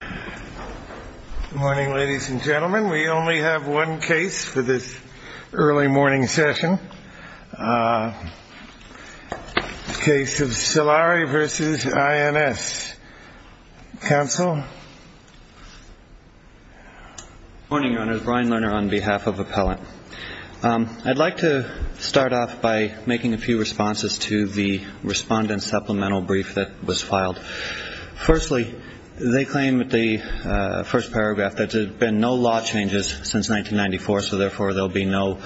Good morning, ladies and gentlemen. We only have one case for this early morning session. Case of Salari v. INS. Counsel? Good morning, Your Honor. Brian Lerner on behalf of Appellant. I'd like to start off by making a few responses to the respondent supplemental brief that was filed. Firstly, they claim in the first paragraph that there have been no law changes since 1994, so therefore there will be no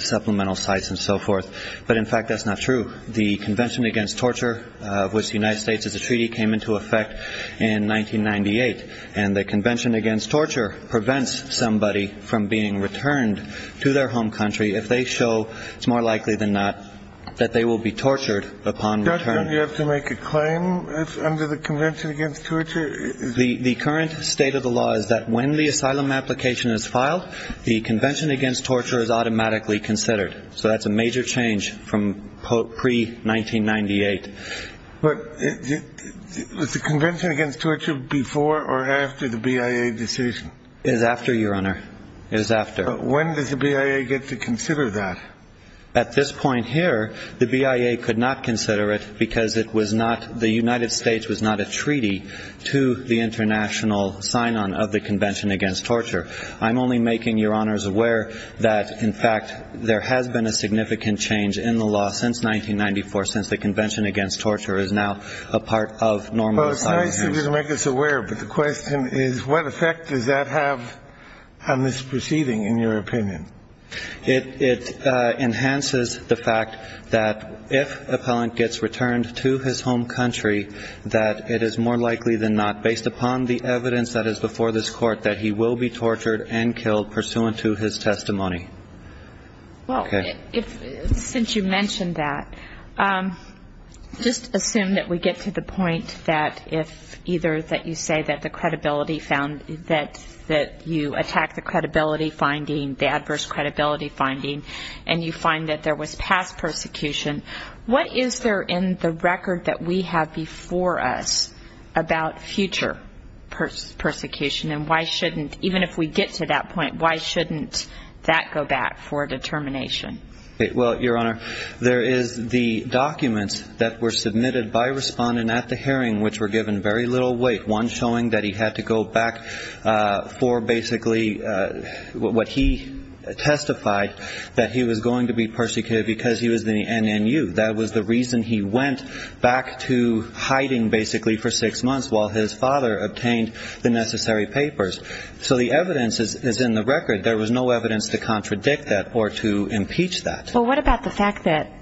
supplemental sites and so forth. But, in fact, that's not true. The Convention Against Torture, of which the United States is a treaty, came into effect in 1998, and the Convention Against Torture prevents somebody from being returned to their home country if they show it's more likely than not that they will be tortured upon return. Judge, don't you have to make a claim under the Convention Against Torture? The current state of the law is that when the asylum application is filed, the Convention Against Torture is automatically considered. So that's a major change from pre-1998. But was the Convention Against Torture before or after the BIA decision? It was after, Your Honor. It was after. When does the BIA get to consider that? At this point here, the BIA could not consider it because the United States was not a treaty to the international sign-on of the Convention Against Torture. I'm only making Your Honors aware that, in fact, there has been a significant change in the law since 1994, since the Convention Against Torture is now a part of normal asylum applications. Well, it's nice of you to make us aware, but the question is, what effect does that have on this proceeding, in your opinion? It enhances the fact that if an appellant gets returned to his home country, that it is more likely than not, based upon the evidence that is before this Court, that he will be tortured and killed pursuant to his testimony. Well, since you mentioned that, just assume that we get to the point that if either that you say that the credibility found that you attack the credibility finding, the adverse credibility finding, and you find that there was past persecution, what is there in the record that we have before us about future persecution? And why shouldn't, even if we get to that point, why shouldn't that go back for determination? Well, Your Honor, there is the documents that were submitted by a respondent at the hearing, which were given very little weight, one showing that he had to go back for basically what he testified, that he was going to be persecuted because he was in the NNU. That was the reason he went back to hiding basically for six months while his father obtained the necessary papers. So the evidence is in the record. There was no evidence to contradict that or to impeach that. Well, what about the fact that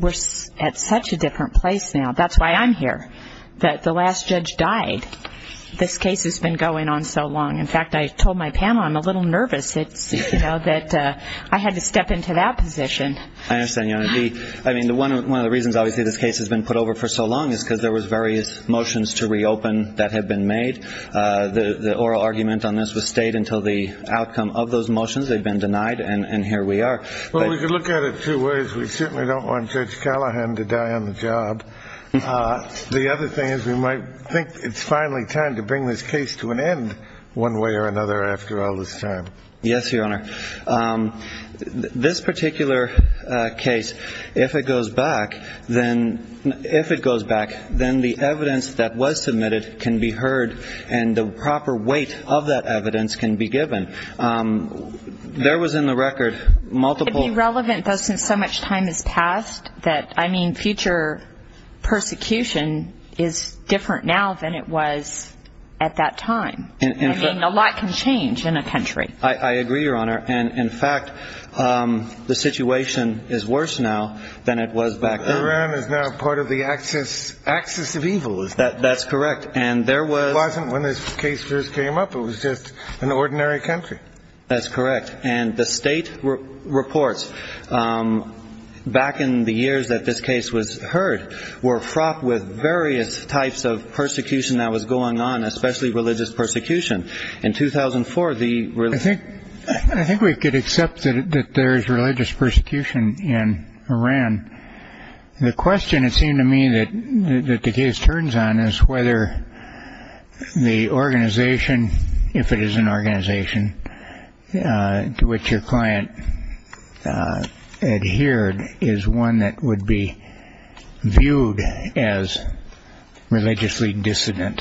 we're at such a different place now? That's why I'm here, that the last judge died. This case has been going on so long. In fact, I told my panel I'm a little nervous that I had to step into that position. I understand, Your Honor. I mean, one of the reasons obviously this case has been put over for so long is because there was various motions to reopen that have been made. The oral argument on this was stayed until the outcome of those motions. They've been denied, and here we are. Well, we can look at it two ways. We certainly don't want Judge Callahan to die on the job. The other thing is we might think it's finally time to bring this case to an end one way or another after all this time. Yes, Your Honor. This particular case, if it goes back, then the evidence that was submitted can be heard, and the proper weight of that evidence can be given. There was in the record multiple. It would be relevant, though, since so much time has passed, that, I mean, future persecution is different now than it was at that time. I mean, a lot can change in a country. I agree, Your Honor. And, in fact, the situation is worse now than it was back then. Iran is now part of the axis of evil. That's correct. And there was. It wasn't when this case first came up. It was just an ordinary country. That's correct. And the state reports back in the years that this case was heard were fraught with various types of persecution that was going on, especially religious persecution. In 2004, the religion. I think we could accept that there is religious persecution in Iran. The question, it seemed to me, that the case turns on is whether the organization, if it is an organization to which your client adhered, is one that would be viewed as religiously dissident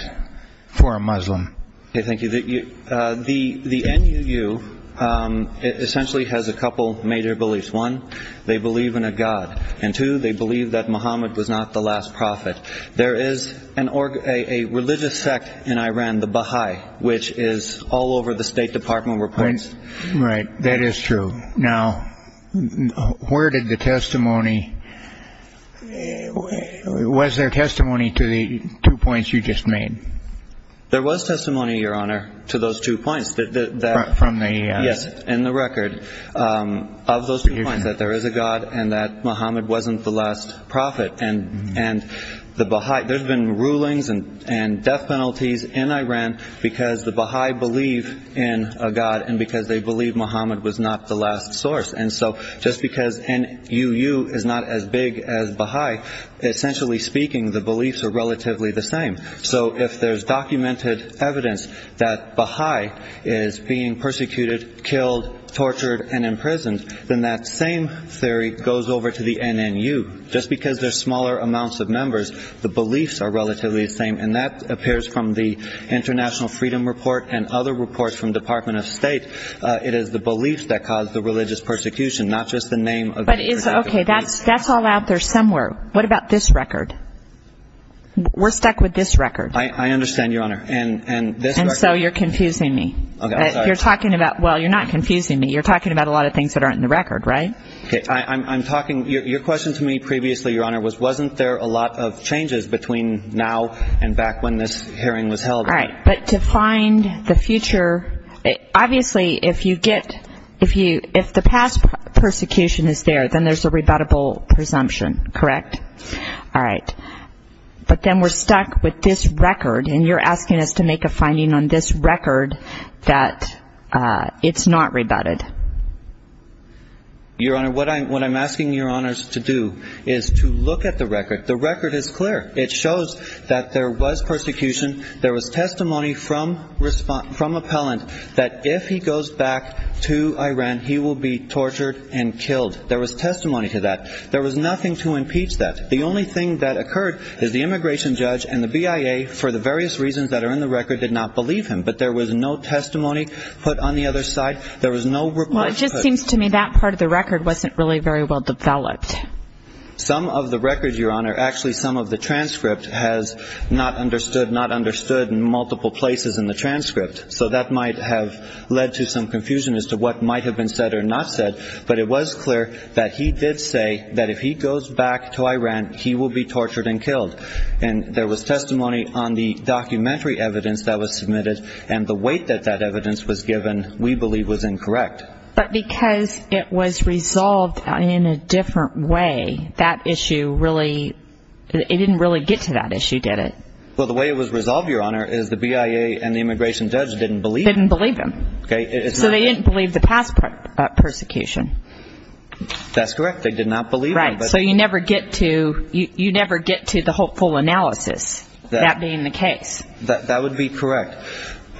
for a Muslim. Thank you. The NUU essentially has a couple major beliefs. One, they believe in a God. And, two, they believe that Muhammad was not the last prophet. There is a religious sect in Iran, the Baha'i, which is all over the State Department reports. Right. That is true. Now, where did the testimony – was there testimony to the two points you just made? There was testimony, Your Honor, to those two points. From the – Yes, in the record. Of those two points, that there is a God and that Muhammad wasn't the last prophet. And the Baha'i – there's been rulings and death penalties in Iran because the Baha'i believe in a God and because they believe Muhammad was not the last source. And so just because NUU is not as big as Baha'i, essentially speaking, the beliefs are relatively the same. So if there's documented evidence that Baha'i is being persecuted, killed, tortured, and imprisoned, then that same theory goes over to the NNU. Just because there's smaller amounts of members, the beliefs are relatively the same. And that appears from the International Freedom Report and other reports from the Department of State. It is the beliefs that cause the religious persecution, not just the name of the – Okay, that's all out there somewhere. What about this record? We're stuck with this record. I understand, Your Honor. And this record – And so you're confusing me. Okay, I'm sorry. You're talking about – well, you're not confusing me. You're talking about a lot of things that aren't in the record, right? Okay, I'm talking – your question to me previously, Your Honor, was wasn't there a lot of changes between now and back when this hearing was held? All right. But to find the future – obviously, if you get – if the past persecution is there, then there's a rebuttable presumption, correct? Correct. All right. But then we're stuck with this record, and you're asking us to make a finding on this record that it's not rebutted. Your Honor, what I'm asking Your Honors to do is to look at the record. The record is clear. It shows that there was persecution. There was testimony from appellant that if he goes back to Iran, he will be tortured and killed. There was testimony to that. There was nothing to impeach that. The only thing that occurred is the immigration judge and the BIA, for the various reasons that are in the record, did not believe him. But there was no testimony put on the other side. There was no – Well, it just seems to me that part of the record wasn't really very well developed. Some of the record, Your Honor – actually, some of the transcript has not understood, not understood in multiple places in the transcript. So that might have led to some confusion as to what might have been said or not said. But it was clear that he did say that if he goes back to Iran, he will be tortured and killed. And there was testimony on the documentary evidence that was submitted, and the weight that that evidence was given we believe was incorrect. But because it was resolved in a different way, that issue really – it didn't really get to that issue, did it? Well, the way it was resolved, Your Honor, is the BIA and the immigration judge didn't believe him. Didn't believe him. Okay. So they didn't believe the past persecution. That's correct. They did not believe him. Right. So you never get to the hopeful analysis, that being the case. That would be correct.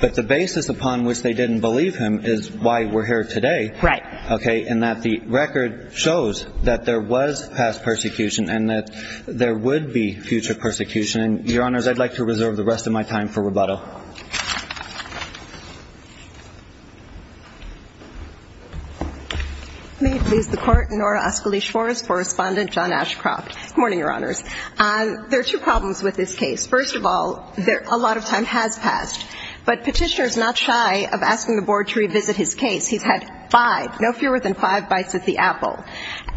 But the basis upon which they didn't believe him is why we're here today. Right. Okay. And that the record shows that there was past persecution and that there would be future persecution. And, Your Honors, I'd like to reserve the rest of my time for rebuttal. May it please the Court. Nora Askilish-Forrest, Correspondent, John Ashcroft. Good morning, Your Honors. There are two problems with this case. First of all, a lot of time has passed. But Petitioner is not shy of asking the Board to revisit his case. He's had five, no fewer than five bites at the apple.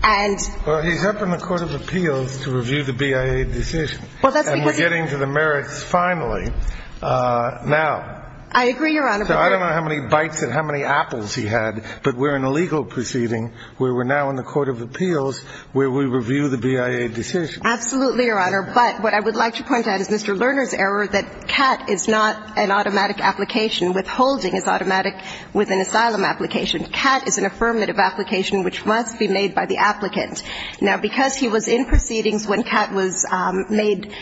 And – Well, he's up in the Court of Appeals to review the BIA decision. And we're getting to the merits finally now. I agree, Your Honor. So I don't know how many bites and how many apples he had, but we're in a legal proceeding where we're now in the Court of Appeals where we review the BIA decision. Absolutely, Your Honor. But what I would like to point out is Mr. Lerner's error that CAT is not an automatic application. Withholding is automatic with an asylum application. CAT is an affirmative application which must be made by the applicant. Now, because he was in proceedings when CAT was made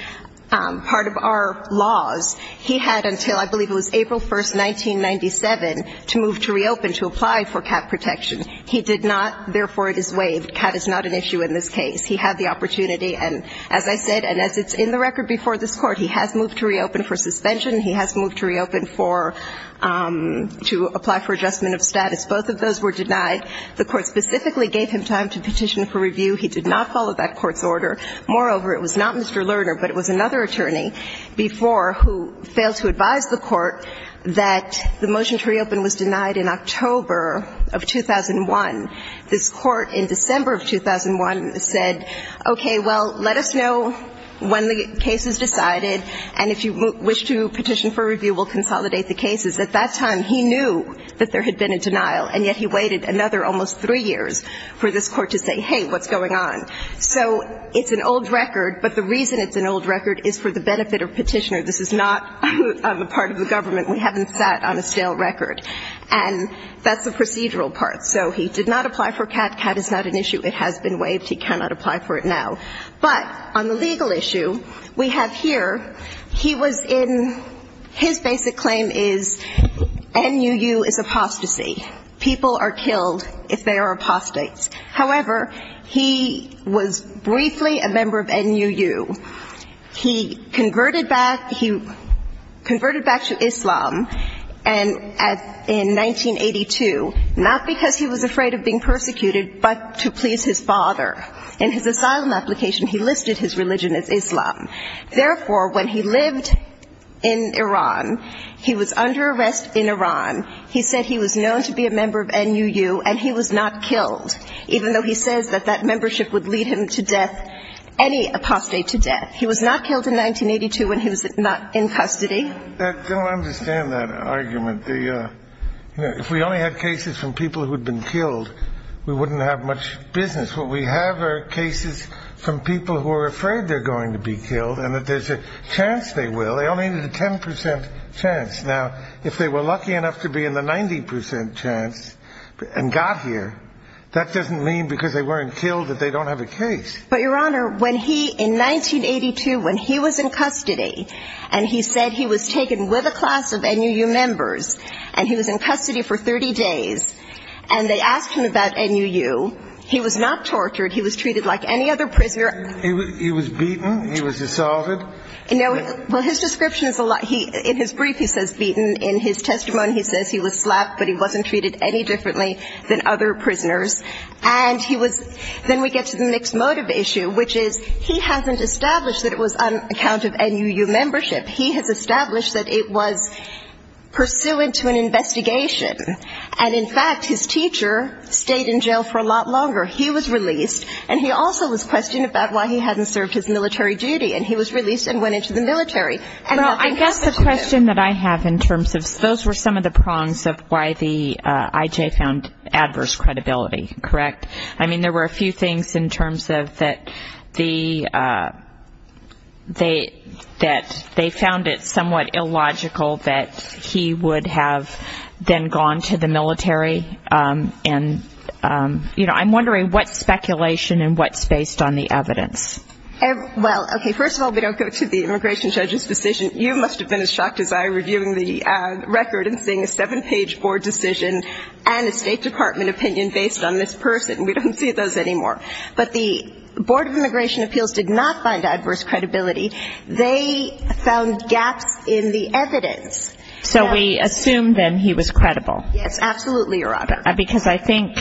part of our laws, he had until I believe it was April 1st, 1997, to move to reopen, to apply for CAT protection. He did not. Therefore, it is waived. CAT is not an issue in this case. He had the opportunity. And as I said, and as it's in the record before this Court, he has moved to reopen for suspension. He has moved to reopen for – to apply for adjustment of status. Both of those were denied. The Court specifically gave him time to petition for review. He did not follow that Court's order. Moreover, it was not Mr. Lerner, but it was another attorney before who failed to advise the Court that the motion to reopen was denied in October of 2001. This Court in December of 2001 said, okay, well, let us know when the case is decided, and if you wish to petition for review, we'll consolidate the cases. At that time, he knew that there had been a denial, and yet he waited another almost three years for this Court to say, hey, what's going on? So it's an old record, but the reason it's an old record is for the benefit of petitioner. This is not on the part of the government. We haven't sat on a stale record. And that's the procedural part. So he did not apply for CAT. CAT is not an issue. It has been waived. He cannot apply for it now. But on the legal issue, we have here, he was in his basic claim is NUU is apostasy. People are killed if they are apostates. However, he was briefly a member of NUU. He converted back to Islam in 1982, not because he was afraid of being persecuted, but to please his father. In his asylum application, he listed his religion as Islam. Therefore, when he lived in Iran, he was under arrest in Iran. He said he was known to be a member of NUU, and he was not killed, even though he says that that membership would lead him to death, any apostate to death. He was not killed in 1982 when he was not in custody. I don't understand that argument. If we only had cases from people who had been killed, we wouldn't have much business. What we have are cases from people who are afraid they're going to be killed and that there's a chance they will. They only need a 10% chance. Now, if they were lucky enough to be in the 90% chance and got here, that doesn't mean because they weren't killed that they don't have a case. But, Your Honor, when he, in 1982, when he was in custody, and he said he was taken with a class of NUU members, and he was in custody for 30 days, and they asked him about NUU, he was not tortured. He was treated like any other prisoner. He was beaten. He was assaulted. Well, his description is a lot. In his brief, he says beaten. In his testimony, he says he was slapped, but he wasn't treated any differently than other prisoners. And he was – then we get to the mixed motive issue, which is he hasn't established that it was on account of NUU membership. He has established that it was pursuant to an investigation. And, in fact, his teacher stayed in jail for a lot longer. He was released, and he also was questioned about why he hadn't served his military duty. And he was released and went into the military. Well, I guess the question that I have in terms of – those were some of the prongs of why the IJ found adverse credibility, correct? I mean, there were a few things in terms of that the – that they found it somewhat illogical that he would have then gone to the military. And, you know, I'm wondering what speculation and what's based on the evidence. Well, okay, first of all, we don't go to the immigration judge's decision. You must have been as shocked as I reviewing the record and seeing a seven-page board decision and a State Department opinion based on this person. We don't see those anymore. But the Board of Immigration Appeals did not find adverse credibility. They found gaps in the evidence. So we assume, then, he was credible. Yes, absolutely, Your Honor. Because I think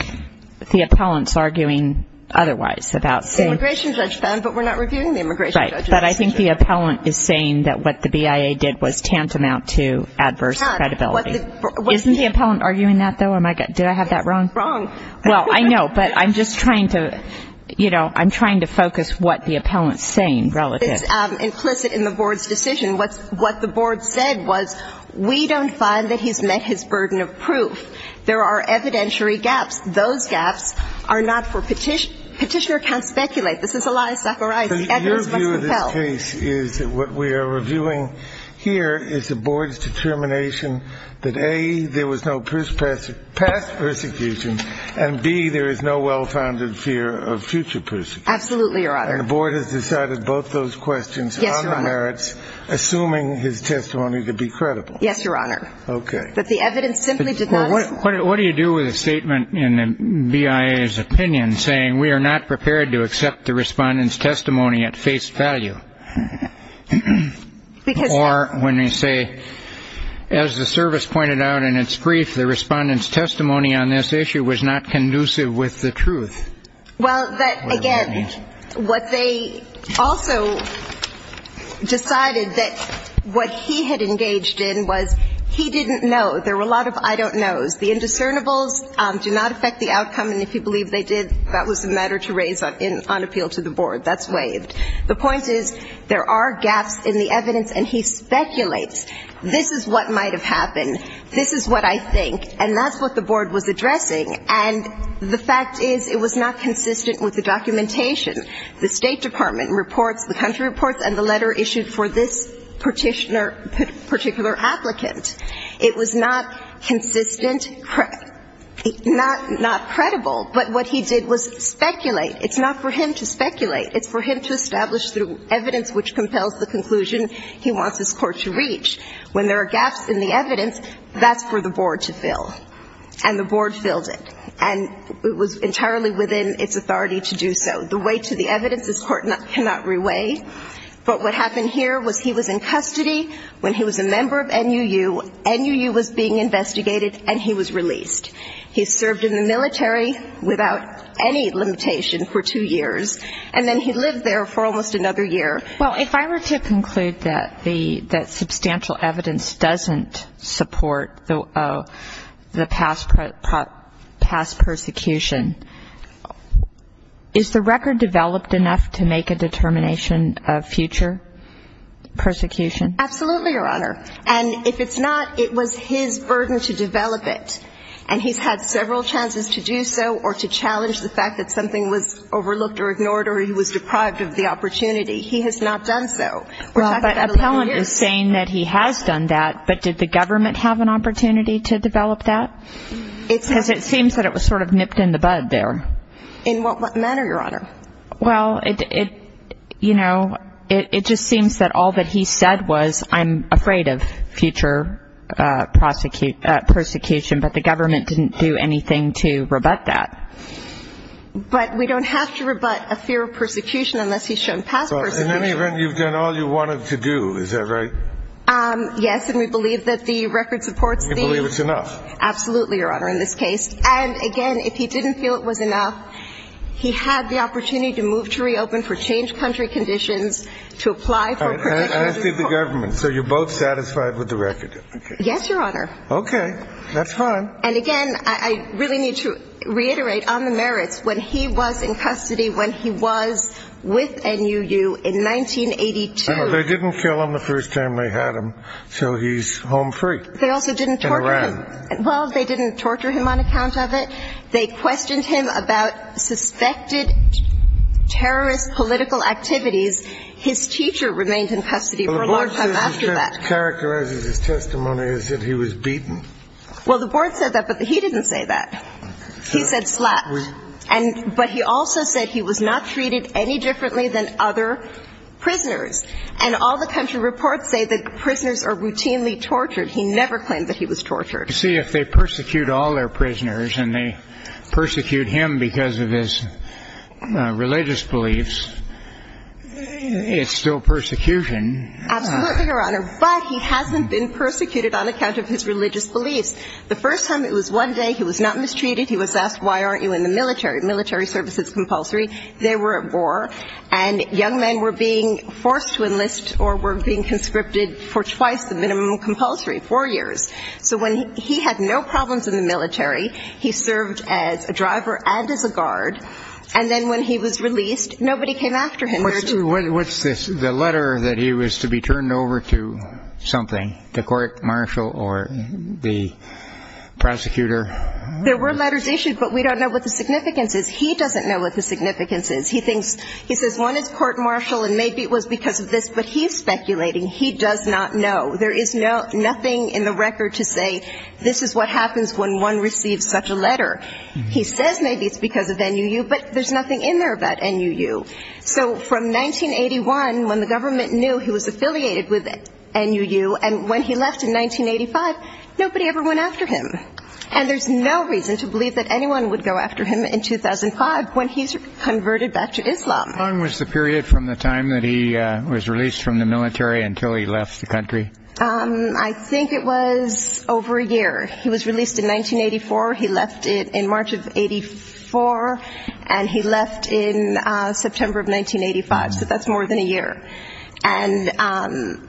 the appellant's arguing otherwise about saying – The immigration judge found, but we're not reviewing the immigration judge's decision. Right, but I think the appellant is saying that what the BIA did was tantamount to adverse credibility. Isn't the appellant arguing that, though? Did I have that wrong? It's wrong. Well, I know, but I'm just trying to – you know, I'm trying to focus what the appellant's saying relative. It's implicit in the board's decision. What the board said was, we don't find that he's met his burden of proof. There are evidentiary gaps. Those gaps are not for – petitioner can't speculate. This is a lie saccharized. The evidence must compel. What we are reviewing here is the board's determination that, A, there was no past persecution, and, B, there is no well-founded fear of future persecution. Absolutely, Your Honor. And the board has decided both those questions on the merits, assuming his testimony to be credible. Yes, Your Honor. Okay. But the evidence simply did not – What do you do with a statement in the BIA's opinion saying, we are not prepared to accept the respondent's testimony at face value? Or when they say, as the service pointed out in its brief, the respondent's testimony on this issue was not conducive with the truth? Well, again, what they also decided that what he had engaged in was he didn't know. There were a lot of I don't knows. The indiscernibles do not affect the outcome, and if you believe they did, that was a matter to raise on appeal to the board. That's waived. The point is, there are gaps in the evidence, and he speculates. This is what might have happened. This is what I think. And that's what the board was addressing. And the fact is, it was not consistent with the documentation. The State Department reports, the country reports, and the letter issued for this particular applicant. It was not consistent, not credible, but what he did was speculate. It's not for him to speculate. It's for him to establish the evidence which compels the conclusion he wants his court to reach. When there are gaps in the evidence, that's for the board to fill. And the board filled it. And it was entirely within its authority to do so. The weight of the evidence, this court cannot reweigh. But what happened here was he was in custody when he was a member of NUU NUU was being investigated, and he was released. He served in the military without any limitation for two years. And then he lived there for almost another year. Well, if I were to conclude that substantial evidence doesn't support the past persecution, is the record developed enough to make a determination of future persecution? Absolutely, Your Honor. And if it's not, it was his burden to develop it. And he's had several chances to do so or to challenge the fact that something was overlooked or ignored or he was deprived of the opportunity. He has not done so. But Appellant is saying that he has done that, but did the government have an opportunity to develop that? Because it seems that it was sort of nipped in the bud there. In what manner, Your Honor? Well, it just seems that all that he said was, I'm afraid of future persecution, but the government didn't do anything to rebut that. But we don't have to rebut a fear of persecution unless he's shown past persecution. In any event, you've done all you wanted to do. Is that right? Yes, and we believe that the record supports these. You believe it's enough? Absolutely, Your Honor, in this case. And, again, if he didn't feel it was enough, he had the opportunity to move to reopen for changed country conditions, to apply for protections. I see the government. So you're both satisfied with the record? Yes, Your Honor. Okay. That's fine. And, again, I really need to reiterate on the merits. When he was in custody, when he was with NUU in 1982. They didn't kill him the first time they had him, so he's home free. They also didn't torture him. And ran. Well, they didn't torture him on account of it. They questioned him about suspected terrorist political activities. His teacher remained in custody for a long time after that. Well, the board characterizes his testimony as if he was beaten. Well, the board said that, but he didn't say that. He said slapped. But he also said he was not treated any differently than other prisoners. And all the country reports say that prisoners are routinely tortured. He never claimed that he was tortured. See, if they persecute all their prisoners and they persecute him because of his religious beliefs, it's still persecution. Absolutely, Your Honor. But he hasn't been persecuted on account of his religious beliefs. The first time, it was one day, he was not mistreated. He was asked, why aren't you in the military? Military service is compulsory. They were at war. And young men were being forced to enlist or were being conscripted for twice the minimum compulsory, four years. So when he had no problems in the military, he served as a driver and as a guard. And then when he was released, nobody came after him. What's this? The letter that he was to be turned over to something, the court martial or the prosecutor? There were letters issued, but we don't know what the significance is. He doesn't know what the significance is. He thinks he says one is court martial and maybe it was because of this. But he's speculating. He does not know. There is nothing in the record to say this is what happens when one receives such a letter. He says maybe it's because of N.U.U., but there's nothing in there about N.U.U. So from 1981, when the government knew he was affiliated with N.U.U. and when he left in 1985, nobody ever went after him. And there's no reason to believe that anyone would go after him in 2005 when he's converted back to Islam. How long was the period from the time that he was released from the military until he left the country? I think it was over a year. He was released in 1984. He left in March of 84, and he left in September of 1985. So that's more than a year. And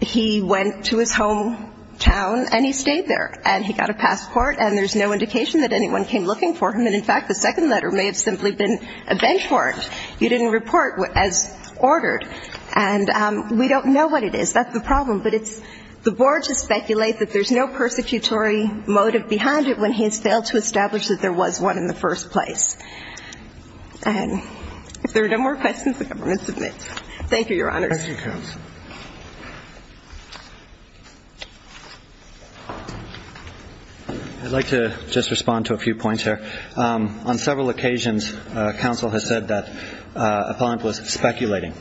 he went to his hometown, and he stayed there. And he got a passport, and there's no indication that anyone came looking for him. And, in fact, the second letter may have simply been a bench warrant. You didn't report as ordered. And we don't know what it is. That's the problem. But it's the board to speculate that there's no persecutory motive behind it when he has failed to establish that there was one in the first place. And if there are no more questions, the government submits. Thank you, Your Honors. Thank you, Counsel. I'd like to just respond to a few points here. On several occasions, counsel has said that Apollon was speculating.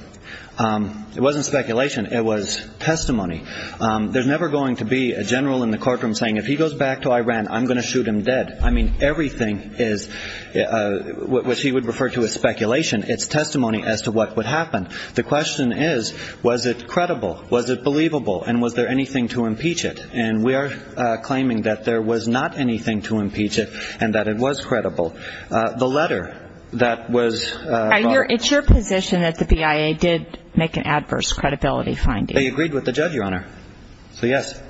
It wasn't speculation. It was testimony. There's never going to be a general in the courtroom saying, if he goes back to Iran, I'm going to shoot him dead. I mean, everything is what he would refer to as speculation. It's testimony as to what would happen. The question is, was it credible? Was it believable? And was there anything to impeach it? And we are claiming that there was not anything to impeach it and that it was credible. The letter that was brought. It's your position that the BIA did make an adverse credibility finding. They agreed with the judge, Your Honor. So, yes.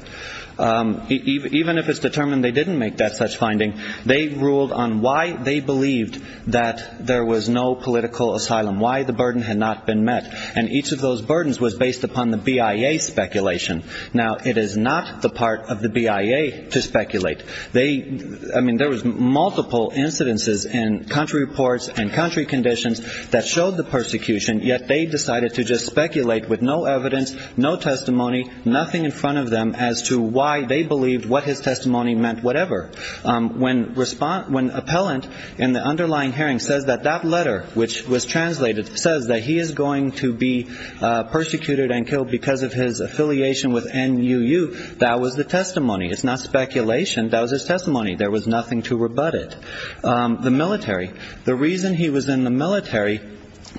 Even if it's determined they didn't make that such finding, they ruled on why they believed that there was no political asylum, why the burden had not been met. And each of those burdens was based upon the BIA speculation. Now, it is not the part of the BIA to speculate. I mean, there was multiple incidences in country reports and country conditions that showed the persecution, yet they decided to just speculate with no evidence, no testimony, nothing in front of them as to why they believed what his testimony meant, whatever. When appellant in the underlying hearing says that that letter, which was translated, says that he is going to be persecuted and killed because of his affiliation with NUU, that was the testimony. It's not speculation. That was his testimony. There was nothing to rebut it. The military. The reason he was in the military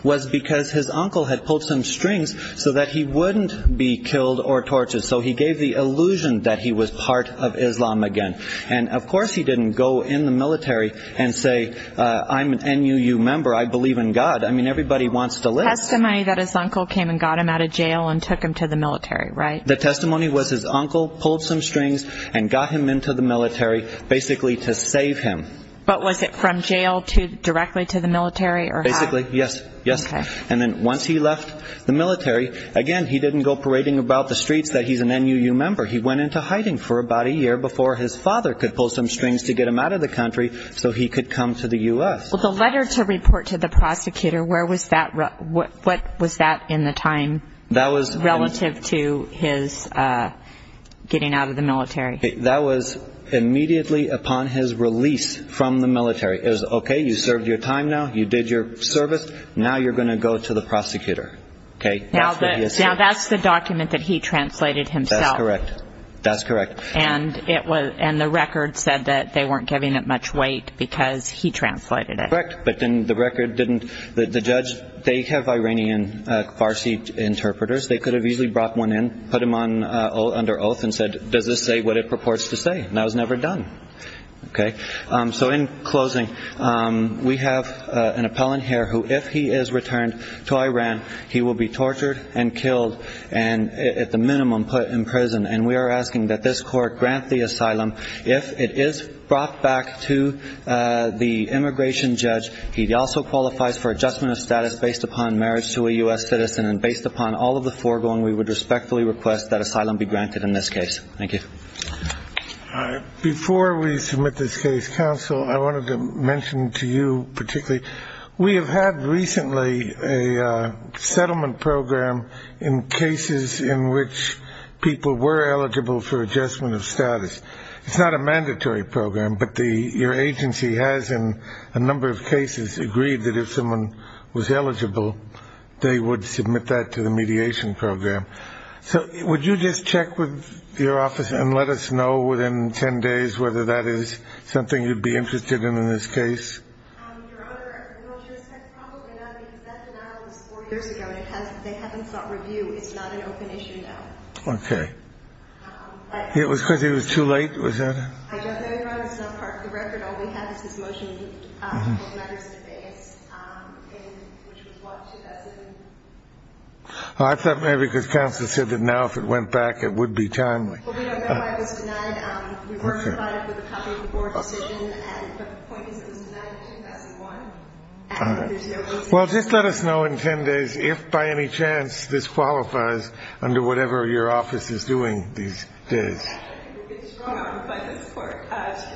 was because his uncle had pulled some strings so that he wouldn't be killed or tortured. So he gave the illusion that he was part of Islam again. And, of course, he didn't go in the military and say, I'm an NUU member. I believe in God. I mean, everybody wants to live. Testimony that his uncle came and got him out of jail and took him to the military, right? The testimony was his uncle pulled some strings and got him into the military basically to save him. But was it from jail to directly to the military? Basically, yes. Yes. And then once he left the military, again, he didn't go parading about the streets that he's an NUU member. He went into hiding for about a year before his father could pull some strings to get him out of the country so he could come to the U.S. Well, the letter to report to the prosecutor, where was that? What was that in the time relative to his getting out of the military? That was immediately upon his release from the military. It was, okay, you served your time now. You did your service. Now you're going to go to the prosecutor. Okay? Now that's the document that he translated himself. That's correct. That's correct. And the record said that they weren't giving it much weight because he translated it. Correct. But then the record didn't, the judge, they have Iranian Farsi interpreters. They could have easily brought one in, put him under oath and said, does this say what it purports to say? And that was never done. Okay? So in closing, we have an appellant here who, if he is returned to Iran, he will be tortured and killed and at the minimum put in prison. And we are asking that this court grant the asylum. If it is brought back to the immigration judge, he also qualifies for adjustment of status based upon marriage to a U.S. citizen. And based upon all of the foregoing, we would respectfully request that asylum be granted in this case. Thank you. Before we submit this case, counsel, I wanted to mention to you particularly, we have had recently a settlement program in cases in which people were eligible for adjustment of status. It's not a mandatory program, but your agency has in a number of cases agreed that if someone was eligible, they would submit that to the mediation program. So would you just check with your office and let us know within 10 days whether that is something you'd be interested in in this case? Your Honor, I will just say probably not, because that denial was four years ago, and they haven't sought review. It's not an open issue now. Okay. It was because it was too late, was that it? I don't know, Your Honor. It's not part of the record. All we have is this motion in matters of base, which was what, 2007? I thought maybe because counsel said that now if it went back, it would be timely. Well, we don't know why it was denied. We were provided with a copy of the board decision, but the point is it was denied in 2001. All right. Well, just let us know in 10 days if by any chance this qualifies under whatever your office is doing these days. It's drawn on by this Court.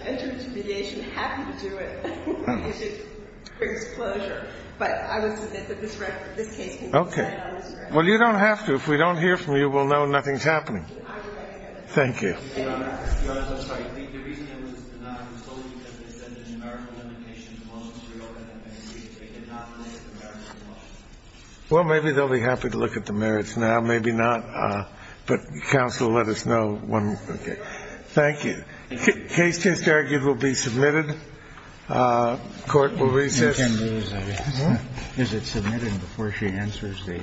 Enter into mediation, happy to do it, because it brings closure. But I would submit that this case can be decided on this record. Well, you don't have to. If we don't hear from you, we'll know nothing's happening. I will write to you. Thank you. Your Honor, I'm sorry. The reason it was denied was totally because they said the numerical limitations of the motion was real, and it did not relate to the merits of the motion. Well, maybe they'll be happy to look at the merits now. Maybe not. But counsel, let us know when. Okay. Thank you. The case just argued will be submitted. Court will recess. Is it submitted before she answers the?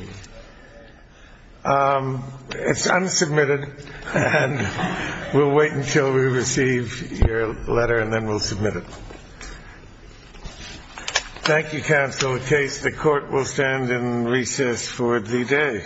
It's unsubmitted, and we'll wait until we receive your letter, and then we'll submit it. Thank you, counsel. The case, the Court will stand in recess for the day.